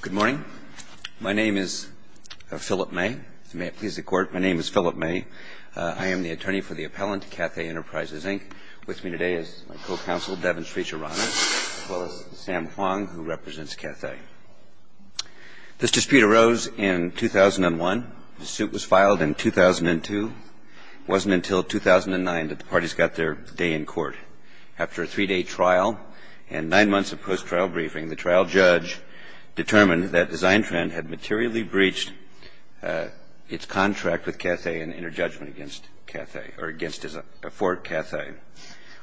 Good morning. My name is Philip May. May it please the Court, my name is Philip May. I am the attorney for the appellant, Cathay Enterprises, Inc. With me today is my co-counsel, Devin Srichirana, as well as Sam Huang, who represents Cathay. This dispute arose in 2001. The suit was filed in 2002. It wasn't until 2009 that the parties got their day in court. After a three-day trial and nine months of post-trial briefing, the trial judge determined that Design Trend had materially breached its contract with Cathay in interjudgment against Cathay, or against, for Cathay.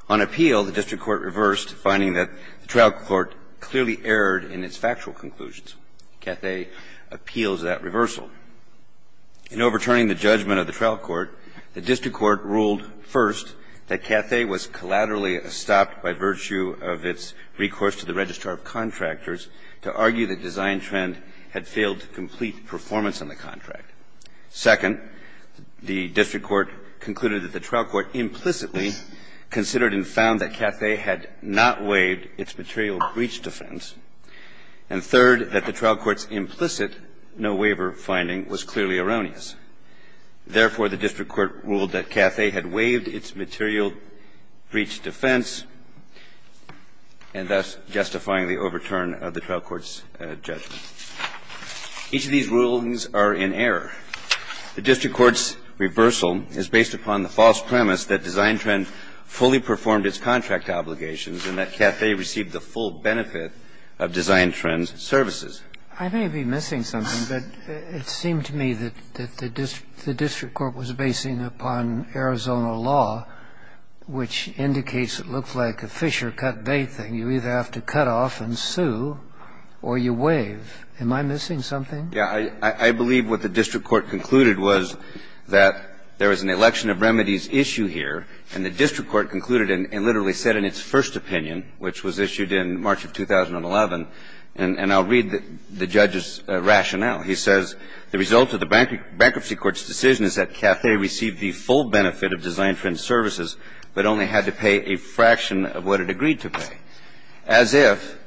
On appeal, the district court reversed, finding that the trial court clearly erred in its factual conclusions. Cathay appeals that reversal. In overturning the judgment of the trial court, the district court ruled first that Cathay was collaterally stopped by virtue of its recourse to the registrar of contractors to argue that Design Trend had failed to complete performance on the contract. Second, the district court concluded that the trial court implicitly considered and found that Cathay had not waived its material breach defense. And third, that the trial court's implicit no-waiver finding was clearly erroneous. Therefore, the district court ruled that Cathay had waived its material breach defense, and thus justifying the overturn of the trial court's judgment. Each of these rulings are in error. The district court's reversal is based upon the false premise that Design Trend fully performed its contract obligations and that Cathay received the full benefit of Design Trend's services. I may be missing something, but it seemed to me that the district court was basing upon Arizona law, which indicates it looks like a Fisher cut bait thing. You either have to cut off and sue, or you waive. Am I missing something? Yeah. I believe what the district court concluded was that there was an election of remedies issue here, and the district court concluded and literally said in its first opinion, which was issued in March of 2011, and I'll read the judge's rationale. He says, The result of the Bankruptcy Court's decision is that Cathay received the full benefit of Design Trend's services, but only had to pay a fraction of what it agreed to pay, as if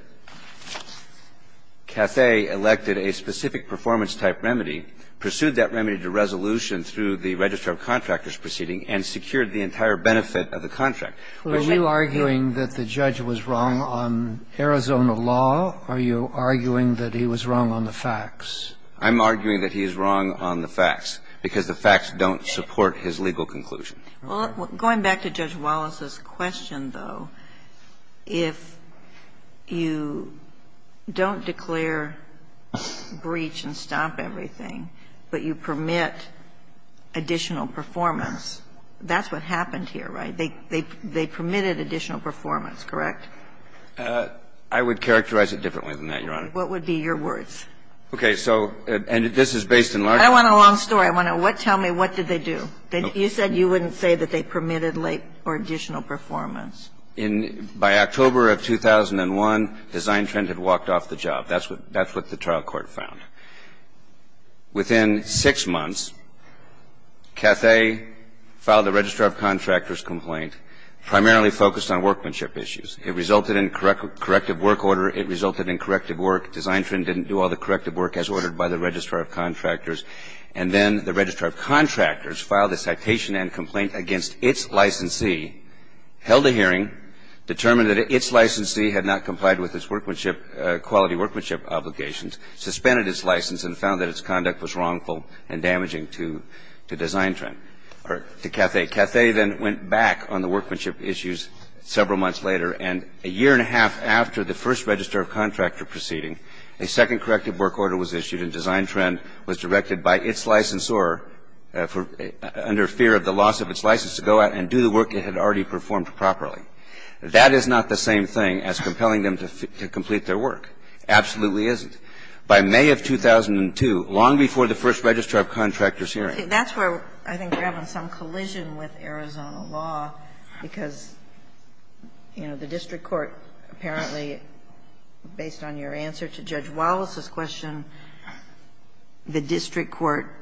Cathay elected a specific performance-type remedy, pursued that remedy to resolution through the registrar of contractors proceeding, and secured the entire benefit of the contract. Are you arguing that the judge was wrong on Arizona law, or are you arguing that he was wrong on the facts? I'm arguing that he is wrong on the facts, because the facts don't support his legal conclusion. Well, going back to Judge Wallace's question, though, if you don't declare breach and stop everything, but you permit additional performance, that's what happened here, right? They permitted additional performance, correct? I would characterize it differently than that, Your Honor. What would be your words? Okay. So, and this is based in large part I want a long story. I want to know, tell me, what did they do? You said you wouldn't say that they permitted late or additional performance. In, by October of 2001, Design Trend had walked off the job. That's what the trial court found. Within six months, Cathay filed a registrar of contractors complaint, primarily focused on workmanship issues. It resulted in corrective work order. It resulted in corrective work. Design Trend didn't do all the corrective work as ordered by the registrar of contractors. And then the registrar of contractors filed a citation and complaint against its licensee, held a hearing, determined that its licensee had not complied with its workmanship quality, workmanship obligations, suspended its license, and found that its conduct was wrongful and damaging to Design Trend, or to Cathay. Cathay then went back on the workmanship issues several months later. And a year and a half after the first registrar of contractor proceeding, a second corrective work order was issued, and Design Trend was directed by its licensor under fear of the loss of its license to go out and do the work it had already performed properly. That is not the same thing as compelling them to complete their work. Absolutely isn't. By May of 2002, long before the first registrar of contractors hearing. That's where I think we're having some collision with Arizona law, because, you know, the district court apparently, based on your answer to Judge Wallace's question, the district court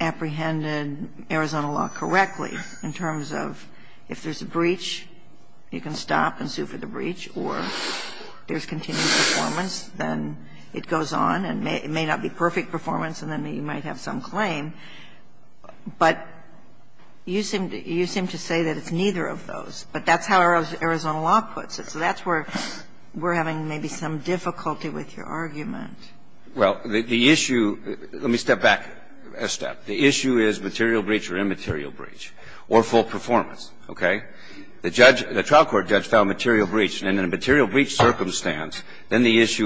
apprehended Arizona law correctly in terms of if there's a breach, you can stop and sue for the breach, or there's continued performance, then it goes on, and it may not be perfect performance, and then you might have some claim. But you seem to say that it's neither of those, but that's how Arizona law puts it. So that's where we're having maybe some difficulty with your argument. Well, the issue – let me step back a step. The issue is material breach or immaterial breach, or full performance, okay? The judge – the trial court judge found material breach, and in a material breach, the question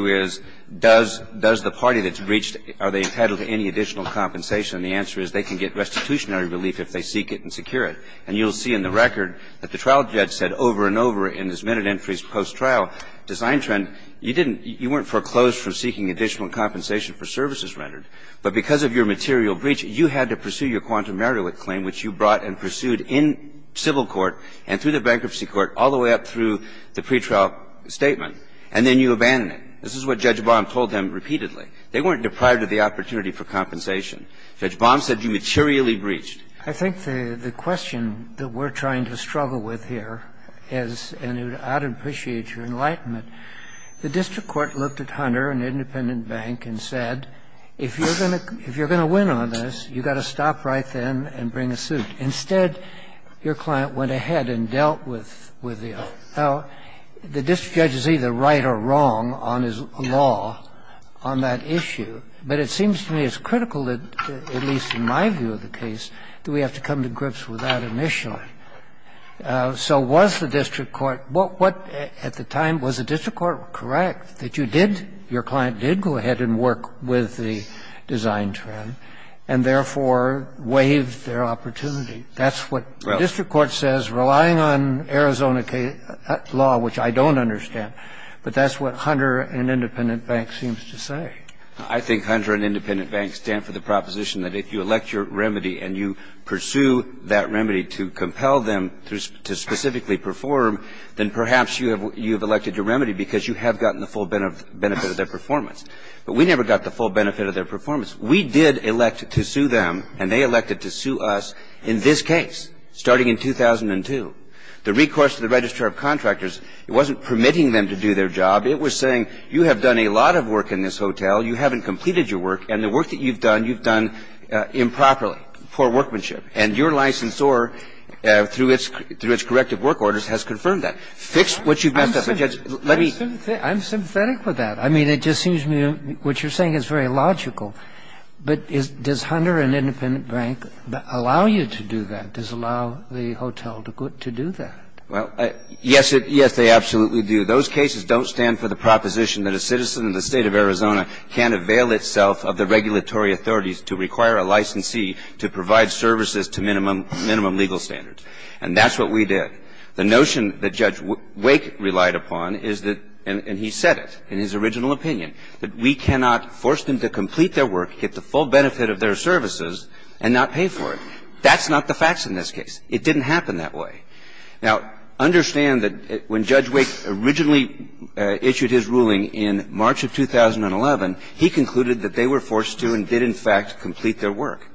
is, does the party that's breached, are they entitled to any additional compensation? And the answer is, they can get restitutionary relief if they seek it and secure it. And you'll see in the record that the trial judge said over and over in his minute entries post-trial, design trend, you didn't – you weren't foreclosed from seeking additional compensation for services rendered. But because of your material breach, you had to pursue your quantum merit claim, which you brought and pursued in civil court and through the bankruptcy court all the way up through the pretrial statement, and then you abandon it. This is what Judge Baum told them repeatedly. They weren't deprived of the opportunity for compensation. Judge Baum said you materially breached. I think the question that we're trying to struggle with here is – and I'd appreciate your enlightenment – the district court looked at Hunter and Independent Bank and said, if you're going to win on this, you've got to stop right then and bring a suit. Instead, your client went ahead and dealt with the – how the district judge is either right or wrong on his law on that issue. But it seems to me it's critical, at least in my view of the case, that we have to come to grips with that initially. So was the district court – what – at the time, was the district court correct that you did – your client did go ahead and work with the design trend and, therefore, waived their opportunity? That's what the district court says, relying on Arizona law, which I don't understand. But that's what Hunter and Independent Bank seems to say. I think Hunter and Independent Bank stand for the proposition that if you elect your remedy and you pursue that remedy to compel them to specifically perform, then perhaps you have elected your remedy because you have gotten the full benefit of their performance. But we never got the full benefit of their performance. We did elect to sue them, and they elected to sue us in this case, starting in 2002. The recourse to the registrar of contractors, it wasn't permitting them to do their job. It was saying, you have done a lot of work in this hotel, you haven't completed your work, and the work that you've done, you've done improperly. Poor workmanship. And your licensor, through its corrective work orders, has confirmed that. Fix what you've messed up. Let me – I'm sympathetic with that. I mean, it just seems to me what you're saying is very logical. But does Hunter and Independent Bank allow you to do that? Does allow the hotel to do that? Well, yes, it – yes, they absolutely do. Those cases don't stand for the proposition that a citizen of the State of Arizona can't avail itself of the regulatory authorities to require a licensee to provide services to minimum legal standards. And that's what we did. The notion that Judge Wake relied upon is that – and he said it in his original opinion – that we cannot force them to complete their work, get the full benefit of their services, and not pay for it. That's not the facts in this case. It didn't happen that way. Now, understand that when Judge Wake originally issued his ruling in March of 2011, he concluded that they were forced to and did, in fact, complete their work.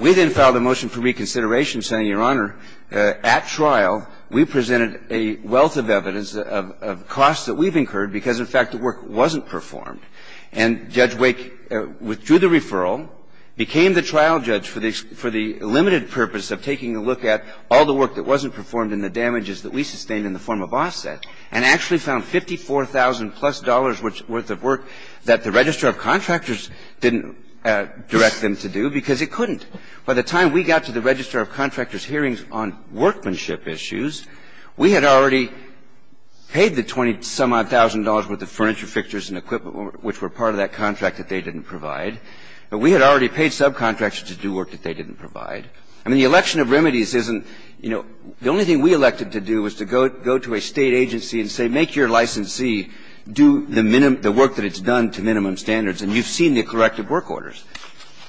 We then filed a motion for reconsideration saying, Your Honor, at trial, we presented a wealth of evidence of costs that we've incurred because, in fact, the work wasn't performed. And Judge Wake withdrew the referral, became the trial judge for the – for the limited purpose of taking a look at all the work that wasn't performed and the damages that we sustained in the form of offset, and actually found $54,000-plus worth of work that the register of contractors didn't direct them to do because it couldn't. By the time we got to the register of contractors' hearings on workmanship issues, we had already paid the $20,000-some-odd with the furniture, fixtures, and equipment which were part of that contract that they didn't provide. But we had already paid subcontractors to do work that they didn't provide. I mean, the election of remedies isn't – you know, the only thing we elected to do was to go to a State agency and say, make your licensee do the work that it's done to minimum standards, and you've seen the corrective work orders.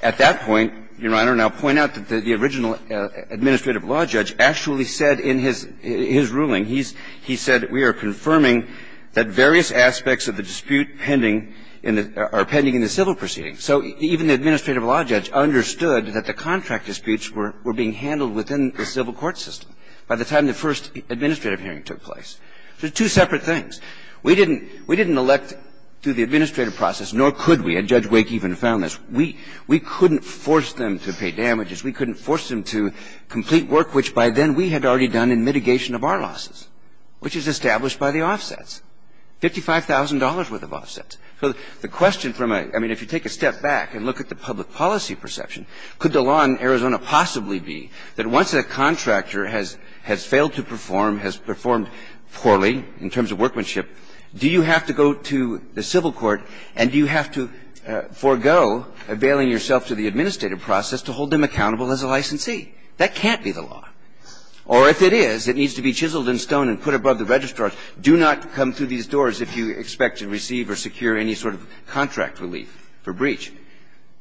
At that point, Your Honor, and I'll point out that the original administrative law judge actually said in his ruling, he said, we are confirming that various aspects of the dispute pending in the – are pending in the civil proceeding. So even the administrative law judge understood that the contract disputes were being handled within the civil court system by the time the first administrative hearing took place. So two separate things. We didn't – we didn't elect through the administrative process, nor could we. And Judge Wake even found this. We couldn't force them to pay damages. We couldn't force them to complete work which, by then, we had already done in mitigation of our losses, which is established by the offsets. Fifty-five thousand dollars' worth of offsets. So the question from a – I mean, if you take a step back and look at the public policy perception, could the law in Arizona possibly be that once a contractor has – has failed to perform, has performed poorly in terms of workmanship, do you have to go to the civil court, and do you have to forego availing yourself to the administrative process to hold them accountable as a licensee? That can't be the law. Or if it is, it needs to be chiseled in stone and put above the registrar's Do not come through these doors if you expect to receive or secure any sort of contract relief for breach,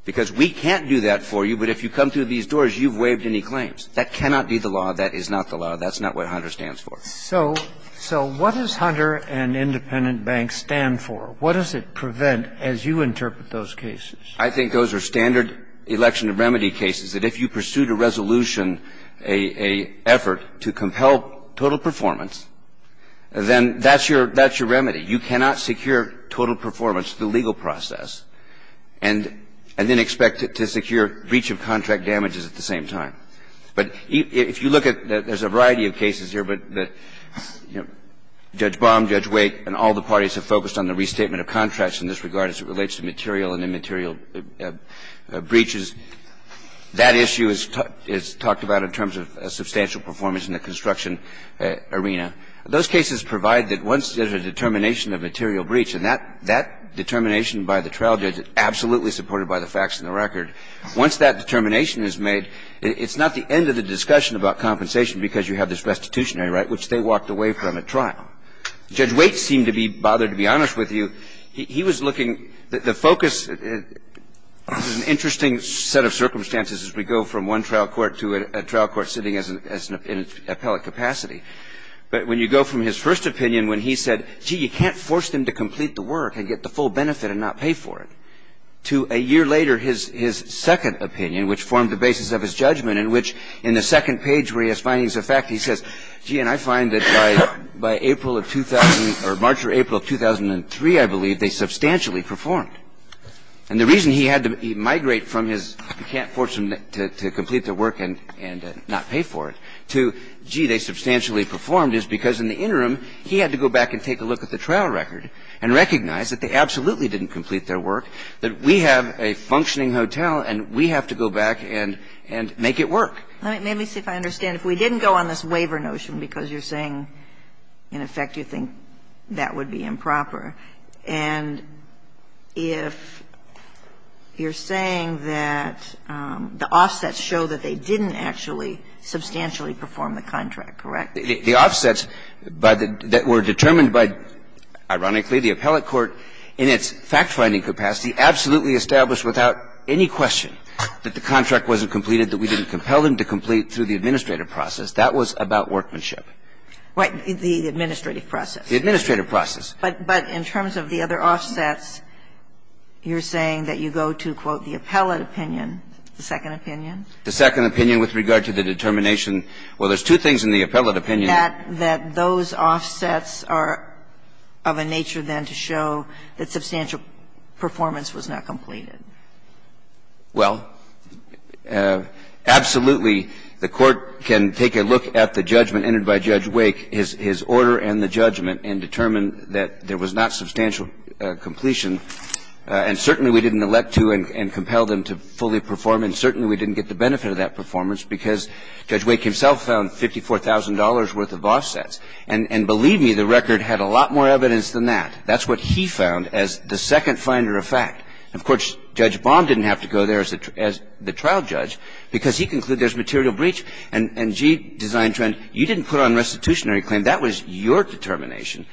because we can't do that for you. But if you come through these doors, you've waived any claims. That cannot be the law. That is not the law. That's not what Hunter stands for. So – so what does Hunter and independent banks stand for? What does it prevent, as you interpret those cases? I think those are standard election of remedy cases, that if you pursued a resolution, a – a effort to compel total performance, then that's your – that's your remedy. You cannot secure total performance through legal process and – and then expect to secure breach of contract damages at the same time. But if you look at – there's a variety of cases here, but Judge Baum, Judge Wake, and all the parties have focused on the restatement of contracts in this regard as it relates to material and immaterial breaches. That issue is – is talked about in terms of substantial performance in the construction arena. Those cases provide that once there's a determination of material breach, and that determination by the trial judge is absolutely supported by the facts and the record, once that determination is made, it's not the end of the discussion about compensation because you have this restitutionary right, which they walked away from at trial. Judge Wake seemed to be bothered, to be honest with you. He was looking – the focus – an interesting set of circumstances as we go from one trial court to a trial court sitting as an – in its appellate capacity. But when you go from his first opinion, when he said, gee, you can't force them to complete the work and get the full benefit and not pay for it, to a year later, his – his second opinion, which formed the basis of his judgment, in which in the second page where he has findings of fact, he says, gee, and I find that by – by April of 2000 or March or April of 2003, I believe, they substantially performed. And the reason he had to migrate from his, you can't force them to complete their work and – and not pay for it, to, gee, they substantially performed, is because in the interim, he had to go back and take a look at the trial record and recognize that they absolutely didn't complete their work, that we have a functioning hotel and we have to go back and – and make it work. Let me see if I understand. If we didn't go on this waiver notion, because you're saying, in effect, you think that would be improper, and if you're saying that the offsets show that they didn't actually substantially perform the contract, correct? The offsets by the – that were determined by, ironically, the appellate court in its fact-finding capacity absolutely established without any question that the appellate court had to complete, through the administrative process, that was about workmanship. Right. The administrative process. The administrative process. But – but in terms of the other offsets, you're saying that you go to, quote, the appellate opinion, the second opinion. The second opinion with regard to the determination. Well, there's two things in the appellate opinion. That – that those offsets are of a nature, then, to show that substantial performance was not completed. Well, absolutely, the Court can take a look at the judgment entered by Judge Wake, his order and the judgment, and determine that there was not substantial completion. And certainly, we didn't elect to and compel them to fully perform, and certainly we didn't get the benefit of that performance, because Judge Wake himself found $54,000 worth of offsets. And believe me, the record had a lot more evidence than that. That's what he found as the second finder of fact. Of course, Judge Baum didn't have to go there as the trial judge, because he concluded there's material breach. And, gee, design trend, you didn't put on restitutionary claim. That was your determination,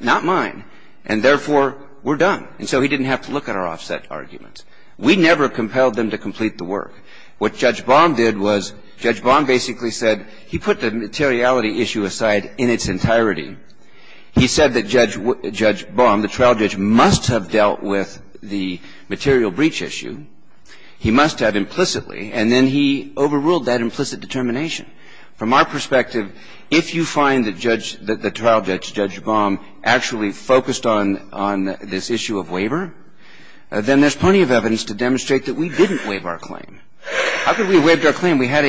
not mine. And therefore, we're done. And so he didn't have to look at our offset arguments. We never compelled them to complete the work. What Judge Baum did was, Judge Baum basically said he put the materiality issue aside in its entirety. He said that Judge Baum, the trial judge, must have dealt with the material breach issue, he must have implicitly, and then he overruled that implicit determination. From our perspective, if you find that Judge – that the trial judge, Judge Baum, actually focused on this issue of waiver, then there's plenty of evidence to demonstrate that we didn't waive our claim. How could we have waived our claim? We had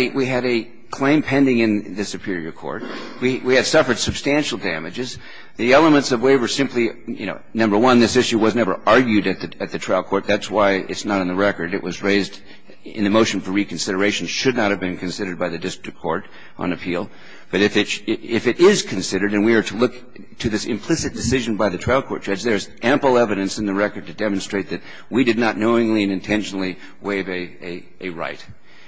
a claim pending in the superior court. We had suffered substantial damages. The elements of waiver simply, you know, number one, this issue was never argued at the trial court. That's why it's not on the record. It was raised in the motion for reconsideration, should not have been considered by the district court on appeal. But if it is considered, and we are to look to this implicit decision by the trial court judge, there's ample evidence in the record to demonstrate that we did not knowingly and intentionally waive a right.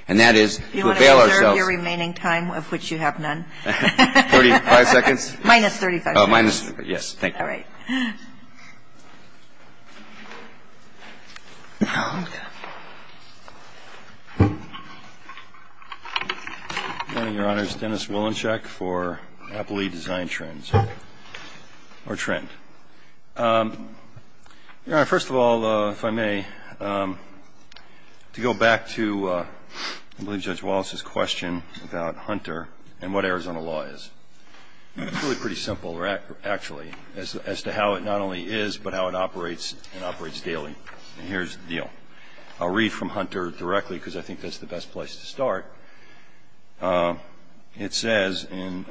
And that is to avail ourselves. And that's your remaining time, of which you have none. Thirty-five seconds. Minus 35 seconds. Minus, yes, thank you. All right. Oh, my God. Good morning, Your Honors. Dennis Wolinchek for Appley Design Trends, or Trend. Your Honor, first of all, if I may, to go back to, I believe, Judge Wallace's question about Hunter and what Arizona law is. It's really pretty simple, actually, as to how it not only is, but how it operates and operates daily. And here's the deal. I'll read from Hunter directly, because I think that's the best place to start. It says in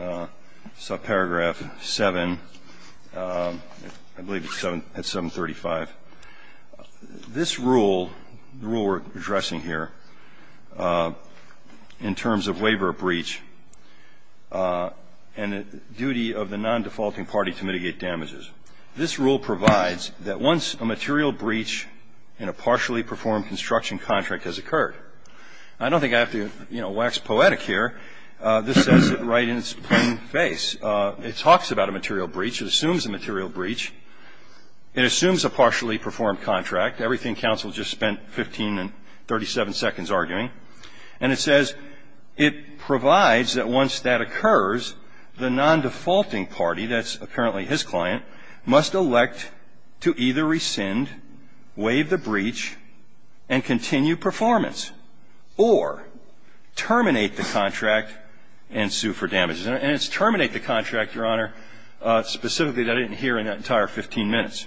subparagraph 7, I believe it's at 735, this rule, the rule we're addressing here in terms of waiver of breach and duty of the non-defaulting party to mitigate damages. This rule provides that once a material breach in a partially performed construction contract has occurred. I don't think I have to, you know, wax poetic here. This says it right in its plain face. It talks about a material breach. It assumes a material breach. It assumes a partially performed contract. Everything counsel just spent 15 and 37 seconds arguing. And it says it provides that once that occurs, the non-defaulting party, that's apparently his client, must elect to either rescind, waive the breach, and continue performance, or terminate the contract and sue for damages. And it's terminate the contract, Your Honor, specifically that I didn't hear in that entire 15 minutes.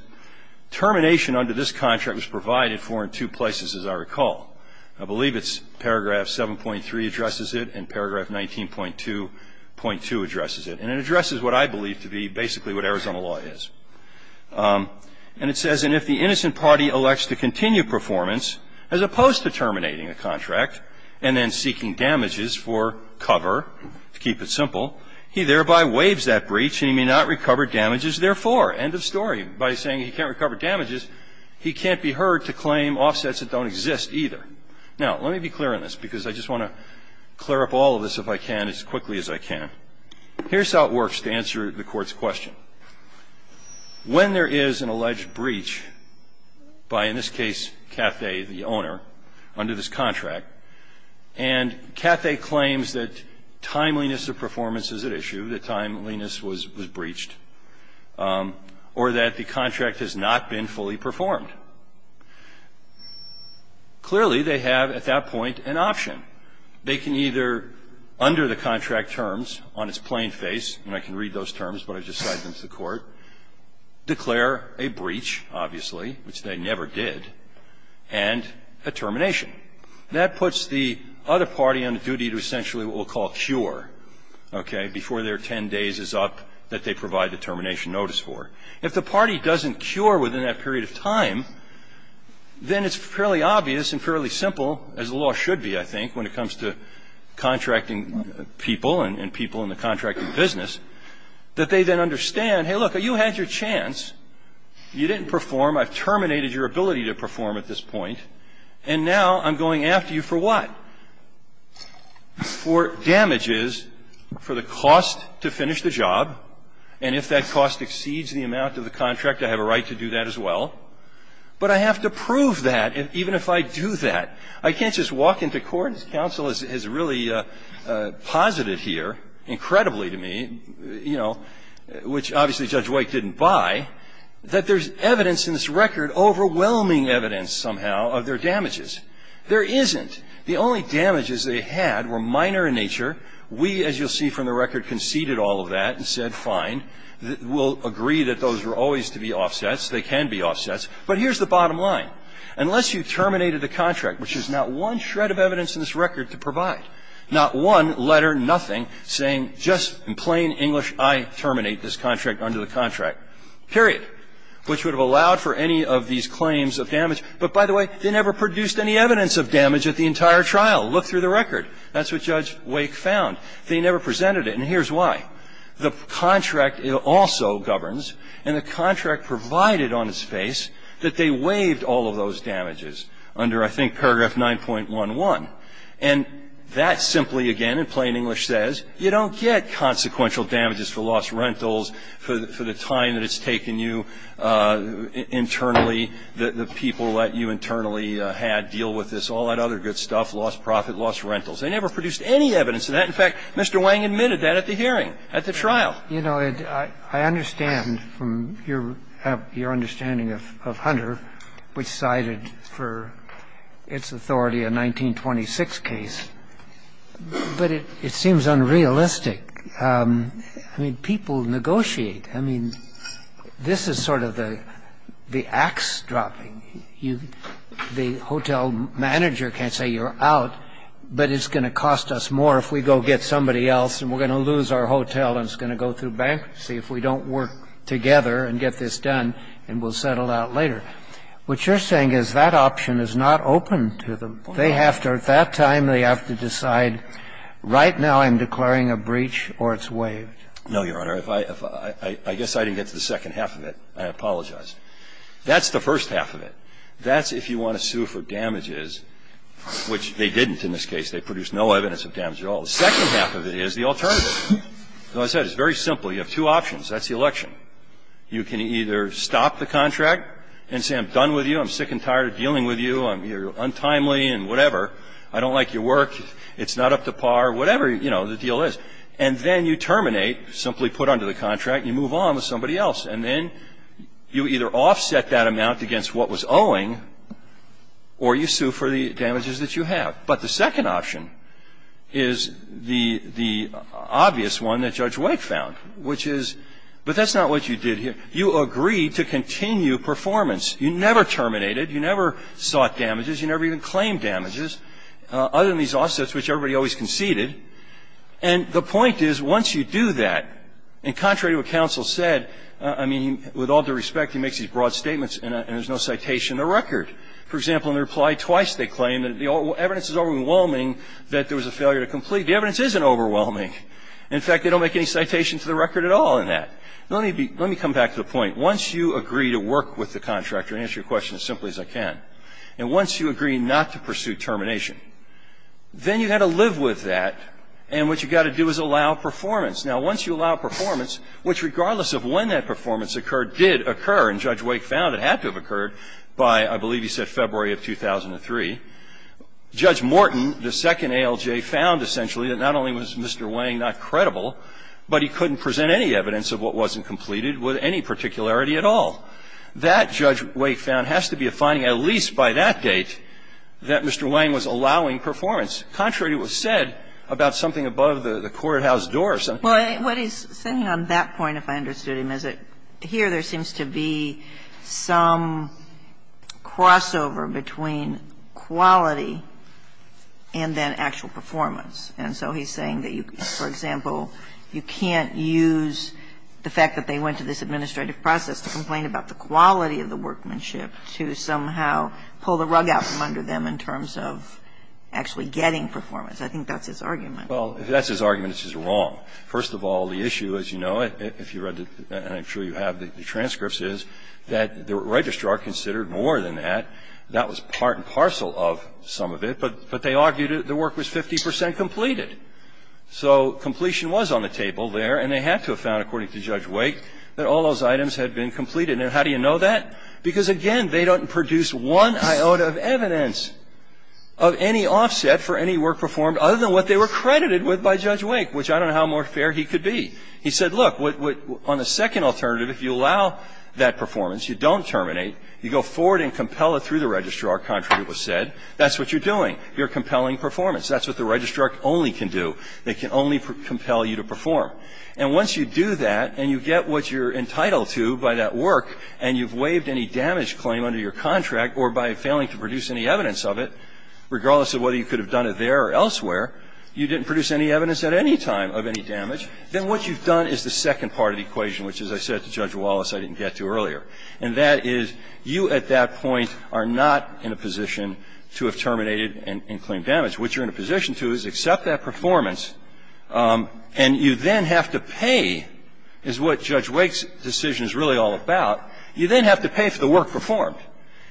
Termination under this contract was provided for in two places, as I recall. I believe it's paragraph 7.3 addresses it and paragraph 19.2.2 addresses it. And it addresses what I believe to be basically what Arizona law is. And it says, And if the innocent party elects to continue performance, as opposed to terminating a contract and then seeking damages for cover, to keep it simple, he thereby waives that breach and he may not recover damages therefore. End of story. By saying he can't recover damages, he can't be heard to claim offsets that don't exist either. Now, let me be clear on this, because I just want to clear up all of this if I can as quickly as I can. Here's how it works to answer the Court's question. When there is an alleged breach by, in this case, Cathay, the owner, under this contract, and Cathay claims that timeliness of performance is at issue, that timeliness was breached. Or that the contract has not been fully performed. Clearly, they have at that point an option. They can either, under the contract terms, on its plain face, and I can read those terms, but I've just cited them to the Court, declare a breach, obviously, which they never did, and a termination. That puts the other party on a duty to essentially what we'll call cure, okay, before their 10 days is up that they provide the termination notice for. If the party doesn't cure within that period of time, then it's fairly obvious and fairly simple, as the law should be, I think, when it comes to contracting people and people in the contracting business, that they then understand, hey, look, you had your chance, you didn't perform, I've terminated your ability to perform at this point, and now I'm going after you for what? For damages, for the cost to finish the job, and if that cost exceeds the amount of the contract, I have a right to do that as well. But I have to prove that, even if I do that. I can't just walk into court, as counsel has really posited here, incredibly to me, you know, which obviously Judge White didn't buy, that there's evidence in this record, overwhelming evidence somehow, of their damages. There isn't. The only damages they had were minor in nature. We, as you'll see from the record, conceded all of that and said, fine, we'll agree that those were always to be offsets, they can be offsets. But here's the bottom line. Unless you terminated the contract, which is not one shred of evidence in this record to provide, not one letter, nothing, saying just in plain English, I terminate this contract under the contract, period, which would have allowed for any of these claims of damage. But by the way, they never produced any evidence of damage at the entire trial. Look through the record. That's what Judge Wake found. They never presented it. And here's why. The contract also governs, and the contract provided on its face, that they waived all of those damages under, I think, paragraph 9.11. And that simply, again, in plain English says, you don't get consequential damages for lost rentals, for the time that it's taken you internally, the people that you internally had deal with this, all that other good stuff, lost profit, lost rentals. They never produced any evidence of that. In fact, Mr. Wang admitted that at the hearing, at the trial. You know, I understand from your understanding of Hunter, which cited for its authority a 1926 case, but it seems unrealistic. I mean, people negotiate. I mean, this is sort of the ax dropping. The hotel manager can't say you're out, but it's going to cost us more if we go get somebody else and we're going to lose our hotel and it's going to go through bankruptcy if we don't work together and get this done and we'll settle out later. What you're saying is that option is not open to them. They have to at that time, they have to decide right now I'm declaring a breach or it's waived. No, Your Honor. I guess I didn't get to the second half of it. I apologize. That's the first half of it. That's if you want to sue for damages, which they didn't in this case. They produced no evidence of damage at all. The second half of it is the alternative. As I said, it's very simple. You have two options. That's the election. You can either stop the contract and say I'm done with you. I'm sick and tired of dealing with you. I'm untimely and whatever. I don't like your work. It's not up to par. Whatever, you know, the deal is. And then you terminate, simply put under the contract. You move on with somebody else. And then you either offset that amount against what was owing or you sue for the damages that you have. But the second option is the obvious one that Judge Wake found, which is, but that's not what you did here. You agreed to continue performance. You never terminated. You never sought damages. You never even claimed damages other than these offsets, which everybody always conceded. And the point is, once you do that, and contrary to what counsel said, I mean, with all due respect, he makes these broad statements and there's no citation in the record. For example, in the reply twice, they claim that the evidence is overwhelming that there was a failure to complete. The evidence isn't overwhelming. In fact, they don't make any citation to the record at all in that. Let me come back to the point. Once you agree to work with the contractor, answer your question as simply as I can, and once you agree not to pursue termination, then you've got to live with that, and what you've got to do is allow performance. Now, once you allow performance, which regardless of when that performance occurred, did occur, and Judge Wake found it had to have occurred by, I believe he said, February of 2003, Judge Morton, the second ALJ, found essentially that not only was Mr. Wang not credible, but he couldn't present any evidence of what wasn't completed with any particularity at all. That, Judge Wake found, has to be a finding at least by that date that Mr. Wang was allowing performance. Contrary to what was said about something above the courthouse door or something. Kagan. What he's saying on that point, if I understood him, is that here there seems to be some crossover between quality and then actual performance, and so he's saying that you, for example, you can't use the fact that they went to this administrative process to complain about the quality of the workmanship to somehow pull the rug out from under them in terms of actually getting performance. I think that's his argument. Well, if that's his argument, it's just wrong. First of all, the issue, as you know, if you read, and I'm sure you have the transcripts, is that the Registrar considered more than that. That was part and parcel of some of it, but they argued the work was 50 percent completed. So completion was on the table there, and they had to have found, according to Judge Wake, that all those items had been completed. And how do you know that? Because, again, they don't produce one iota of evidence of any offset for any work performed other than what they were credited with by Judge Wake, which I don't know how more fair he could be. He said, look, on the second alternative, if you allow that performance, you don't terminate, you go forward and compel it through the Registrar, contrary to what was said, that's what you're doing. You're compelling performance. That's what the Registrar only can do. They can only compel you to perform. And once you do that and you get what you're entitled to by that work, and you've waived any damage claim under your contract or by failing to produce any evidence of it, regardless of whether you could have done it there or elsewhere, you didn't produce any evidence at any time of any damage, then what you've done is the second part of the equation, which, as I said to Judge Wallace, I didn't get to earlier, and that is you at that point are not in a position to have terminated and claimed damage. What you're in a position to is accept that performance, and you then have to pay, is what Judge Wake's decision is really all about, you then have to pay for the work performed.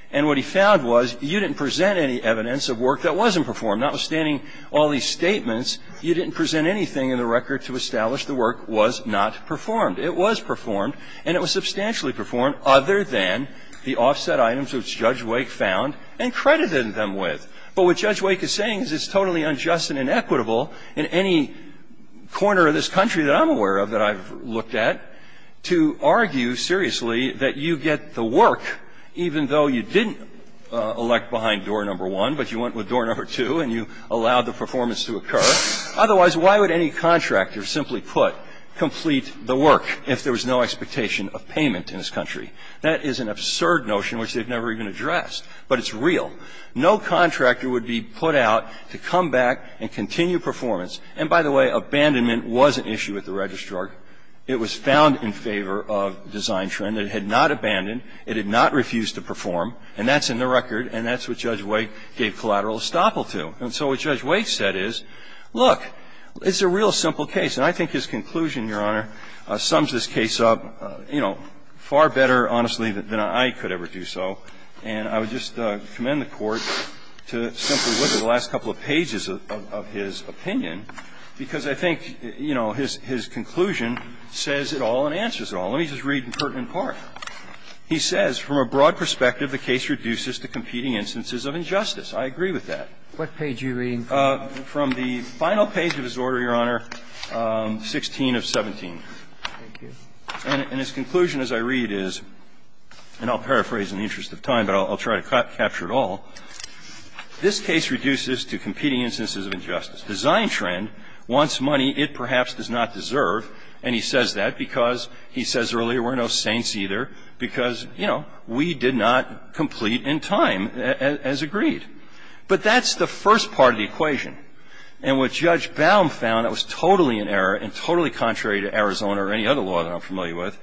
And what he found was you didn't present any evidence of work that wasn't performed. Notwithstanding all these statements, you didn't present anything in the record to establish the work was not performed. It was performed, and it was substantially performed, other than the offset items which Judge Wake found and credited them with. But what Judge Wake is saying is it's totally unjust and inequitable in any corner of this country that I'm aware of that I've looked at to argue seriously that you get the work even though you didn't elect behind door number one, but you went with door number two and you allowed the performance to occur. Otherwise, why would any contractor, simply put, complete the work if there was no expectation of payment in this country? That is an absurd notion which they've never even addressed, but it's real. No contractor would be put out to come back and continue performance. And by the way, abandonment was an issue at the registrar. It was found in favor of design trend. It had not abandoned. It had not refused to perform. And that's in the record, and that's what Judge Wake gave collateral estoppel to. And so what Judge Wake said is, look, it's a real simple case. And I think his conclusion, Your Honor, sums this case up, you know, far better, honestly, than I could ever do so. And I would just commend the Court to simply look at the last couple of pages of his opinion, because I think, you know, his conclusion says it all and answers it all. Let me just read in pertinent part. He says, "...from a broad perspective, the case reduces to competing instances of injustice." I agree with that. What page are you reading from? From the final page of his order, Your Honor, 16 of 17. Thank you. And his conclusion, as I read, is, and I'll paraphrase in the interest of time, but I'll try to capture it all. This case reduces to competing instances of injustice. Design trend wants money it perhaps does not deserve, and he says that because, he says earlier, we're no saints either, because, you know, we did not complete in time, as agreed. But that's the first part of the equation. And what Judge Baum found that was totally in error, and totally contrary to Arizona or any other law that I'm familiar with,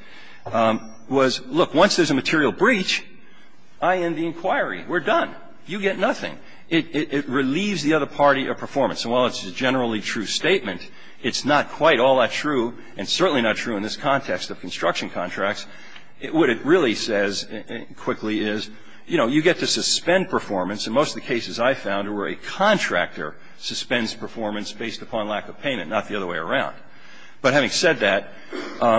was, look, once there's a material breach, I end the inquiry. We're done. You get nothing. It relieves the other party of performance. And while it's a generally true statement, it's not quite all that true, and certainly not true in this context of construction contracts. What it really says quickly is, you know, you get to suspend performance, and most of the cases I found were a contractor suspends performance based upon lack of payment, not the other way around. But having said that,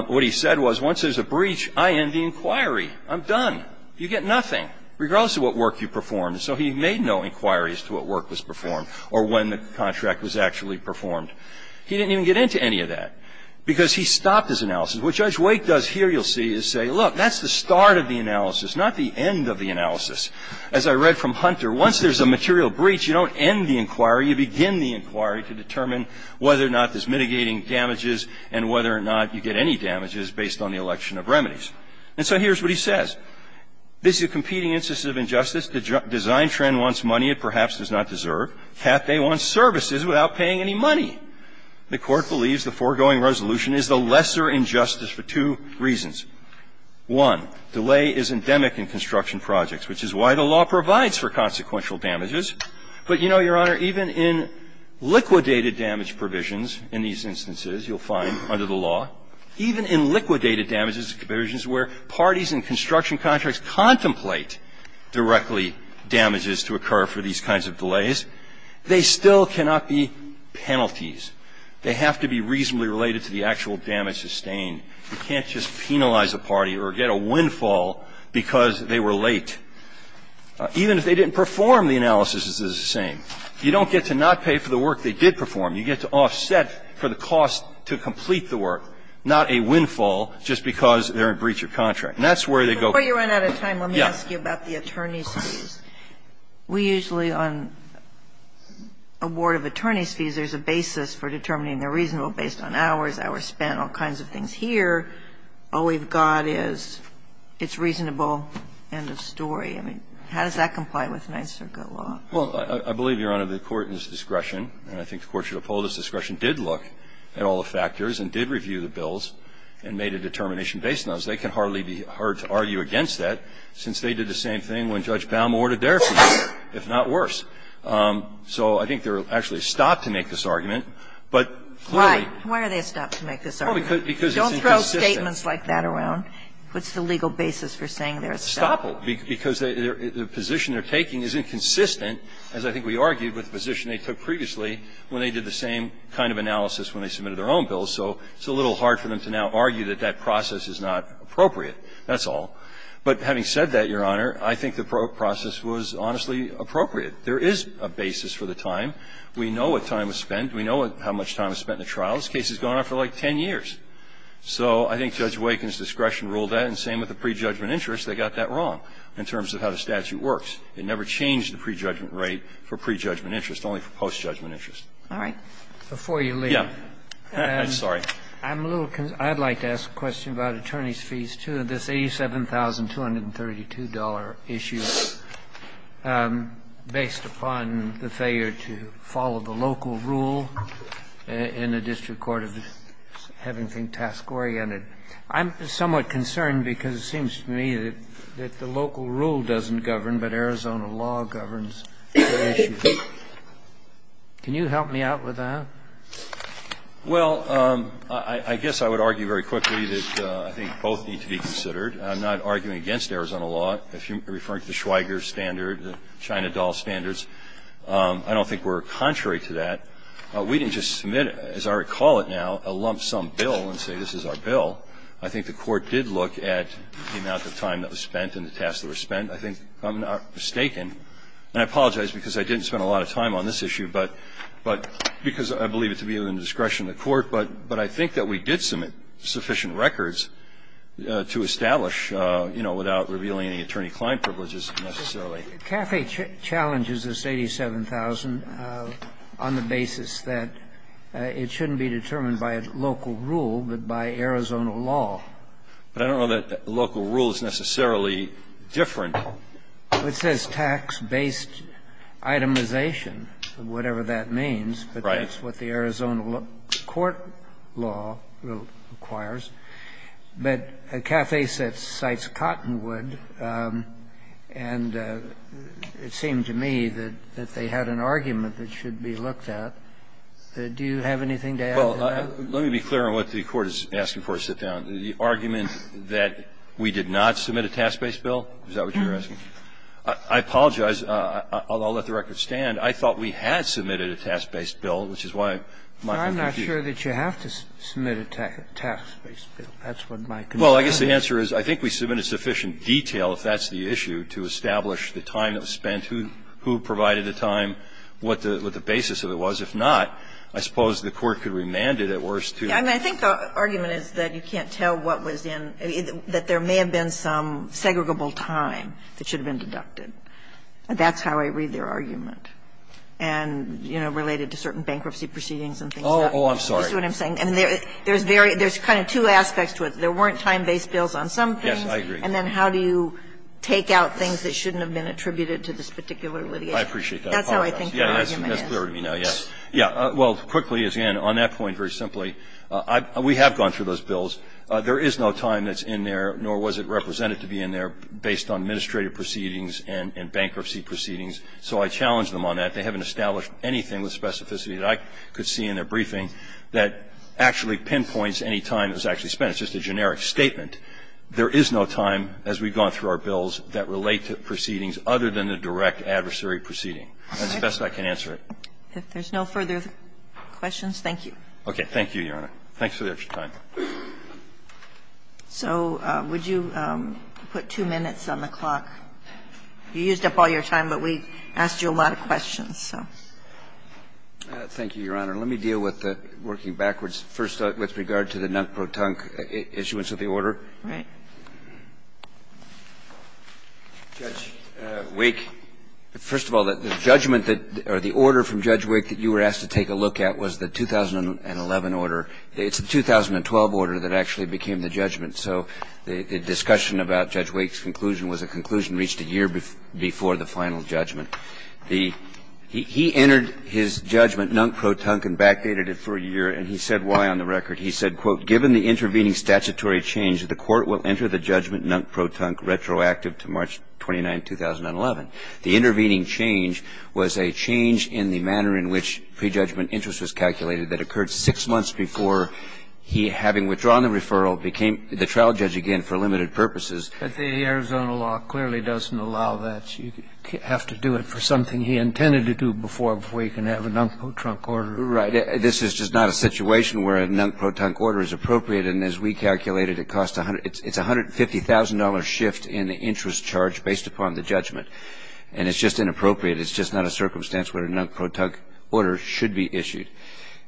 what he said was, once there's a breach, I end the inquiry. I'm done. You get nothing, regardless of what work you performed. So he made no inquiries to what work was performed or when the contract was actually performed. He didn't even get into any of that, because he stopped his analysis. What Judge Wake does here, you'll see, is say, look, that's the start of the analysis, not the end of the analysis. As I read from Hunter, once there's a material breach, you don't end the inquiry. You begin the inquiry to determine whether or not there's mitigating damages and whether or not you get any damages based on the election of remedies. And so here's what he says. This is a competing instance of injustice. The design trend wants money it perhaps does not deserve. Halfday wants services without paying any money. The Court believes the foregoing resolution is the lesser injustice for two reasons. One, delay is endemic in construction projects, which is why the law provides for consequential damages. But you know, Your Honor, even in liquidated damage provisions in these instances you'll find under the law, even in liquidated damages provisions where parties in construction contracts contemplate directly damages to occur for these kinds of delays, they still cannot be penalties. They have to be reasonably related to the actual damage sustained. You can't just penalize a party or get a windfall because they were late. Even if they didn't perform the analysis, it's the same. You don't get to not pay for the work they did perform. You get to offset for the cost to complete the work, not a windfall just because they're in breach of contract. And that's where they go. Kagan. Kagan. Kagan. Let me ask you about the attorney's fees. We usually on a board of attorneys' fees, there's a basis for determining they're reasonable based on hours, hours spent, all kinds of things here. All we've got is it's reasonable, end of story. I mean, how does that comply with Ninth Circuit law? Well, I believe, Your Honor, the court in its discretion, and I think the court should uphold its discretion, did look at all the factors and did review the bills and made a determination based on those. They can hardly be heard to argue against that since they did the same thing when Judge Baum ordered their fees, if not worse. So I think they're actually stopped to make this argument. But clearly why are they stopped to make this argument? Don't throw statements like that around. What's the legal basis for saying they're stopped? Stoppable, because the position they're taking is inconsistent, as I think we argued with the position they took previously when they did the same kind of analysis when they submitted their own bills. So it's a little hard for them to now argue that that process is not appropriate. That's all. But having said that, Your Honor, I think the process was honestly appropriate. There is a basis for the time. We know what time was spent. We know how much time was spent in the trial. This case has gone on for like 10 years. So I think Judge Waken's discretion ruled that, and same with the prejudgment interest. They got that wrong in terms of how the statute works. It never changed the prejudgment rate for prejudgment interest, only for postjudgment interest. All right. Before you leave. Yeah. Sorry. I'm a little concerned. I'd like to ask a question about attorneys' fees, too, in this $87,232 issue. I'm a little concerned because it seems to me that the local rule doesn't govern, but Arizona law governs the issue. Can you help me out with that? Well, I guess I would argue very quickly that I think both need to be considered. I'm not arguing against Arizona law. I don't think we're contrary to that. We didn't just submit, as I recall it now, a lump-sum bill and say this is our bill. I think the Court did look at the amount of time that was spent and the tasks that were spent. I think I'm not mistaken. And I apologize because I didn't spend a lot of time on this issue because I believe it to be within the discretion of the Court. But I think that we did submit sufficient records to establish, you know, without revealing any attorney-client privileges, necessarily. But CAFE challenges this $87,000 on the basis that it shouldn't be determined by a local rule, but by Arizona law. But I don't know that local rule is necessarily different. It says tax-based itemization, whatever that means. Right. But that's what the Arizona court law requires. But CAFE cites Cottonwood, and it seemed to me that they had an argument that should be looked at. Do you have anything to add to that? Well, let me be clear on what the Court is asking for. Sit down. The argument that we did not submit a task-based bill, is that what you're asking? I apologize. I'll let the record stand. I thought we had submitted a task-based bill, which is why my confusion. I'm not sure that you have to submit a task-based bill. That's what my confusion is. Well, I guess the answer is I think we submitted sufficient detail, if that's the issue, to establish the time that was spent, who provided the time, what the basis of it was. If not, I suppose the Court could remand it at worst to the court. I think the argument is that you can't tell what was in the other one, that there may have been some segregable time that should have been deducted. That's how I read their argument, and, you know, related to certain bankruptcy proceedings and things like that. Oh, I'm sorry. That's what I'm saying. There's very – there's kind of two aspects to it. There weren't time-based bills on some things. Yes, I agree. And then how do you take out things that shouldn't have been attributed to this particular litigation? I appreciate that. That's how I think their argument is. Yes, that's clear to me now, yes. Yes. Well, quickly, as Ann, on that point, very simply, we have gone through those bills. There is no time that's in there, nor was it represented to be in there, based on administrative proceedings and bankruptcy proceedings, so I challenge them on that. They haven't established anything with specificity that I could see in their briefing that actually pinpoints any time that was actually spent. It's just a generic statement. There is no time, as we've gone through our bills, that relate to proceedings other than the direct adversary proceeding. That's the best I can answer it. If there's no further questions, thank you. Okay. Thank you, Your Honor. Thanks for your time. So would you put two minutes on the clock? You used up all your time, but we asked you a lot of questions, so. Thank you, Your Honor. Let me deal with the working backwards, first, with regard to the non-proton issuance of the order. Right. Judge Wake, first of all, the judgment that or the order from Judge Wake that you were asked to take a look at was the 2011 order. It's the 2012 order that actually became the judgment, so the discussion about Judge Wake's conclusion was a conclusion reached a year before the final judgment. He entered his judgment non-proton and backdated it for a year, and he said why on the record. He said, quote, Given the intervening statutory change, the Court will enter the judgment non-proton retroactive to March 29, 2011. The intervening change was a change in the manner in which prejudgment interest was calculated that occurred six months before he, having withdrawn the referral, became the trial judge again for limited purposes. But the Arizona law clearly doesn't allow that. You have to do it for something he intended to do before, before you can have a non-proton order. Right. This is just not a situation where a non-proton order is appropriate, and as we calculated, it costs a hundred — it's a $150,000 shift in the interest charge based upon the judgment. And it's just inappropriate. It's just not a circumstance where a non-proton order should be issued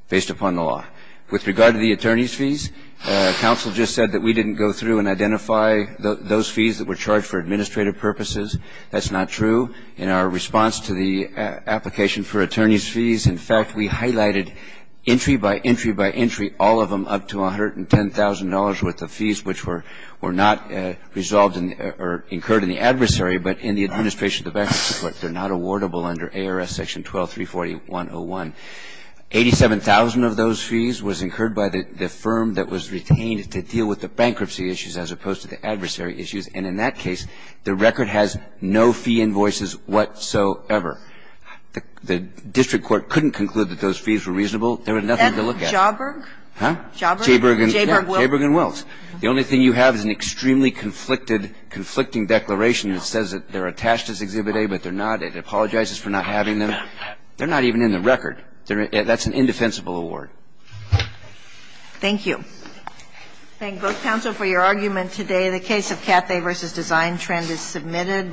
based upon the law. With regard to the attorney's fees, counsel just said that we didn't go through and identify those fees that were charged for administrative purposes. That's not true. In our response to the application for attorney's fees, in fact, we highlighted entry by entry by entry, all of them up to $110,000 worth of fees, which were not resolved or incurred in the adversary, but in the administration of the bankruptcy court. They're not awardable under ARS Section 12-341-01. Eighty-seven thousand of those fees was incurred by the firm that was retained to deal with the bankruptcy issues as opposed to the adversary issues. And in that case, the record has no fee invoices whatsoever. The district court couldn't conclude that those fees were reasonable. There was nothing to look at. And Jauberg? Huh? Jauberg? Jauberg and Wills. The only thing you have is an extremely conflicted, conflicting declaration that says that they're attached as Exhibit A, but they're not. It apologizes for not having them. They're not even in the record. That's an indefensible award. Thank you. Thank you. Thank you, both counsel, for your argument today. The case of Cathay v. Design Trend is submitted.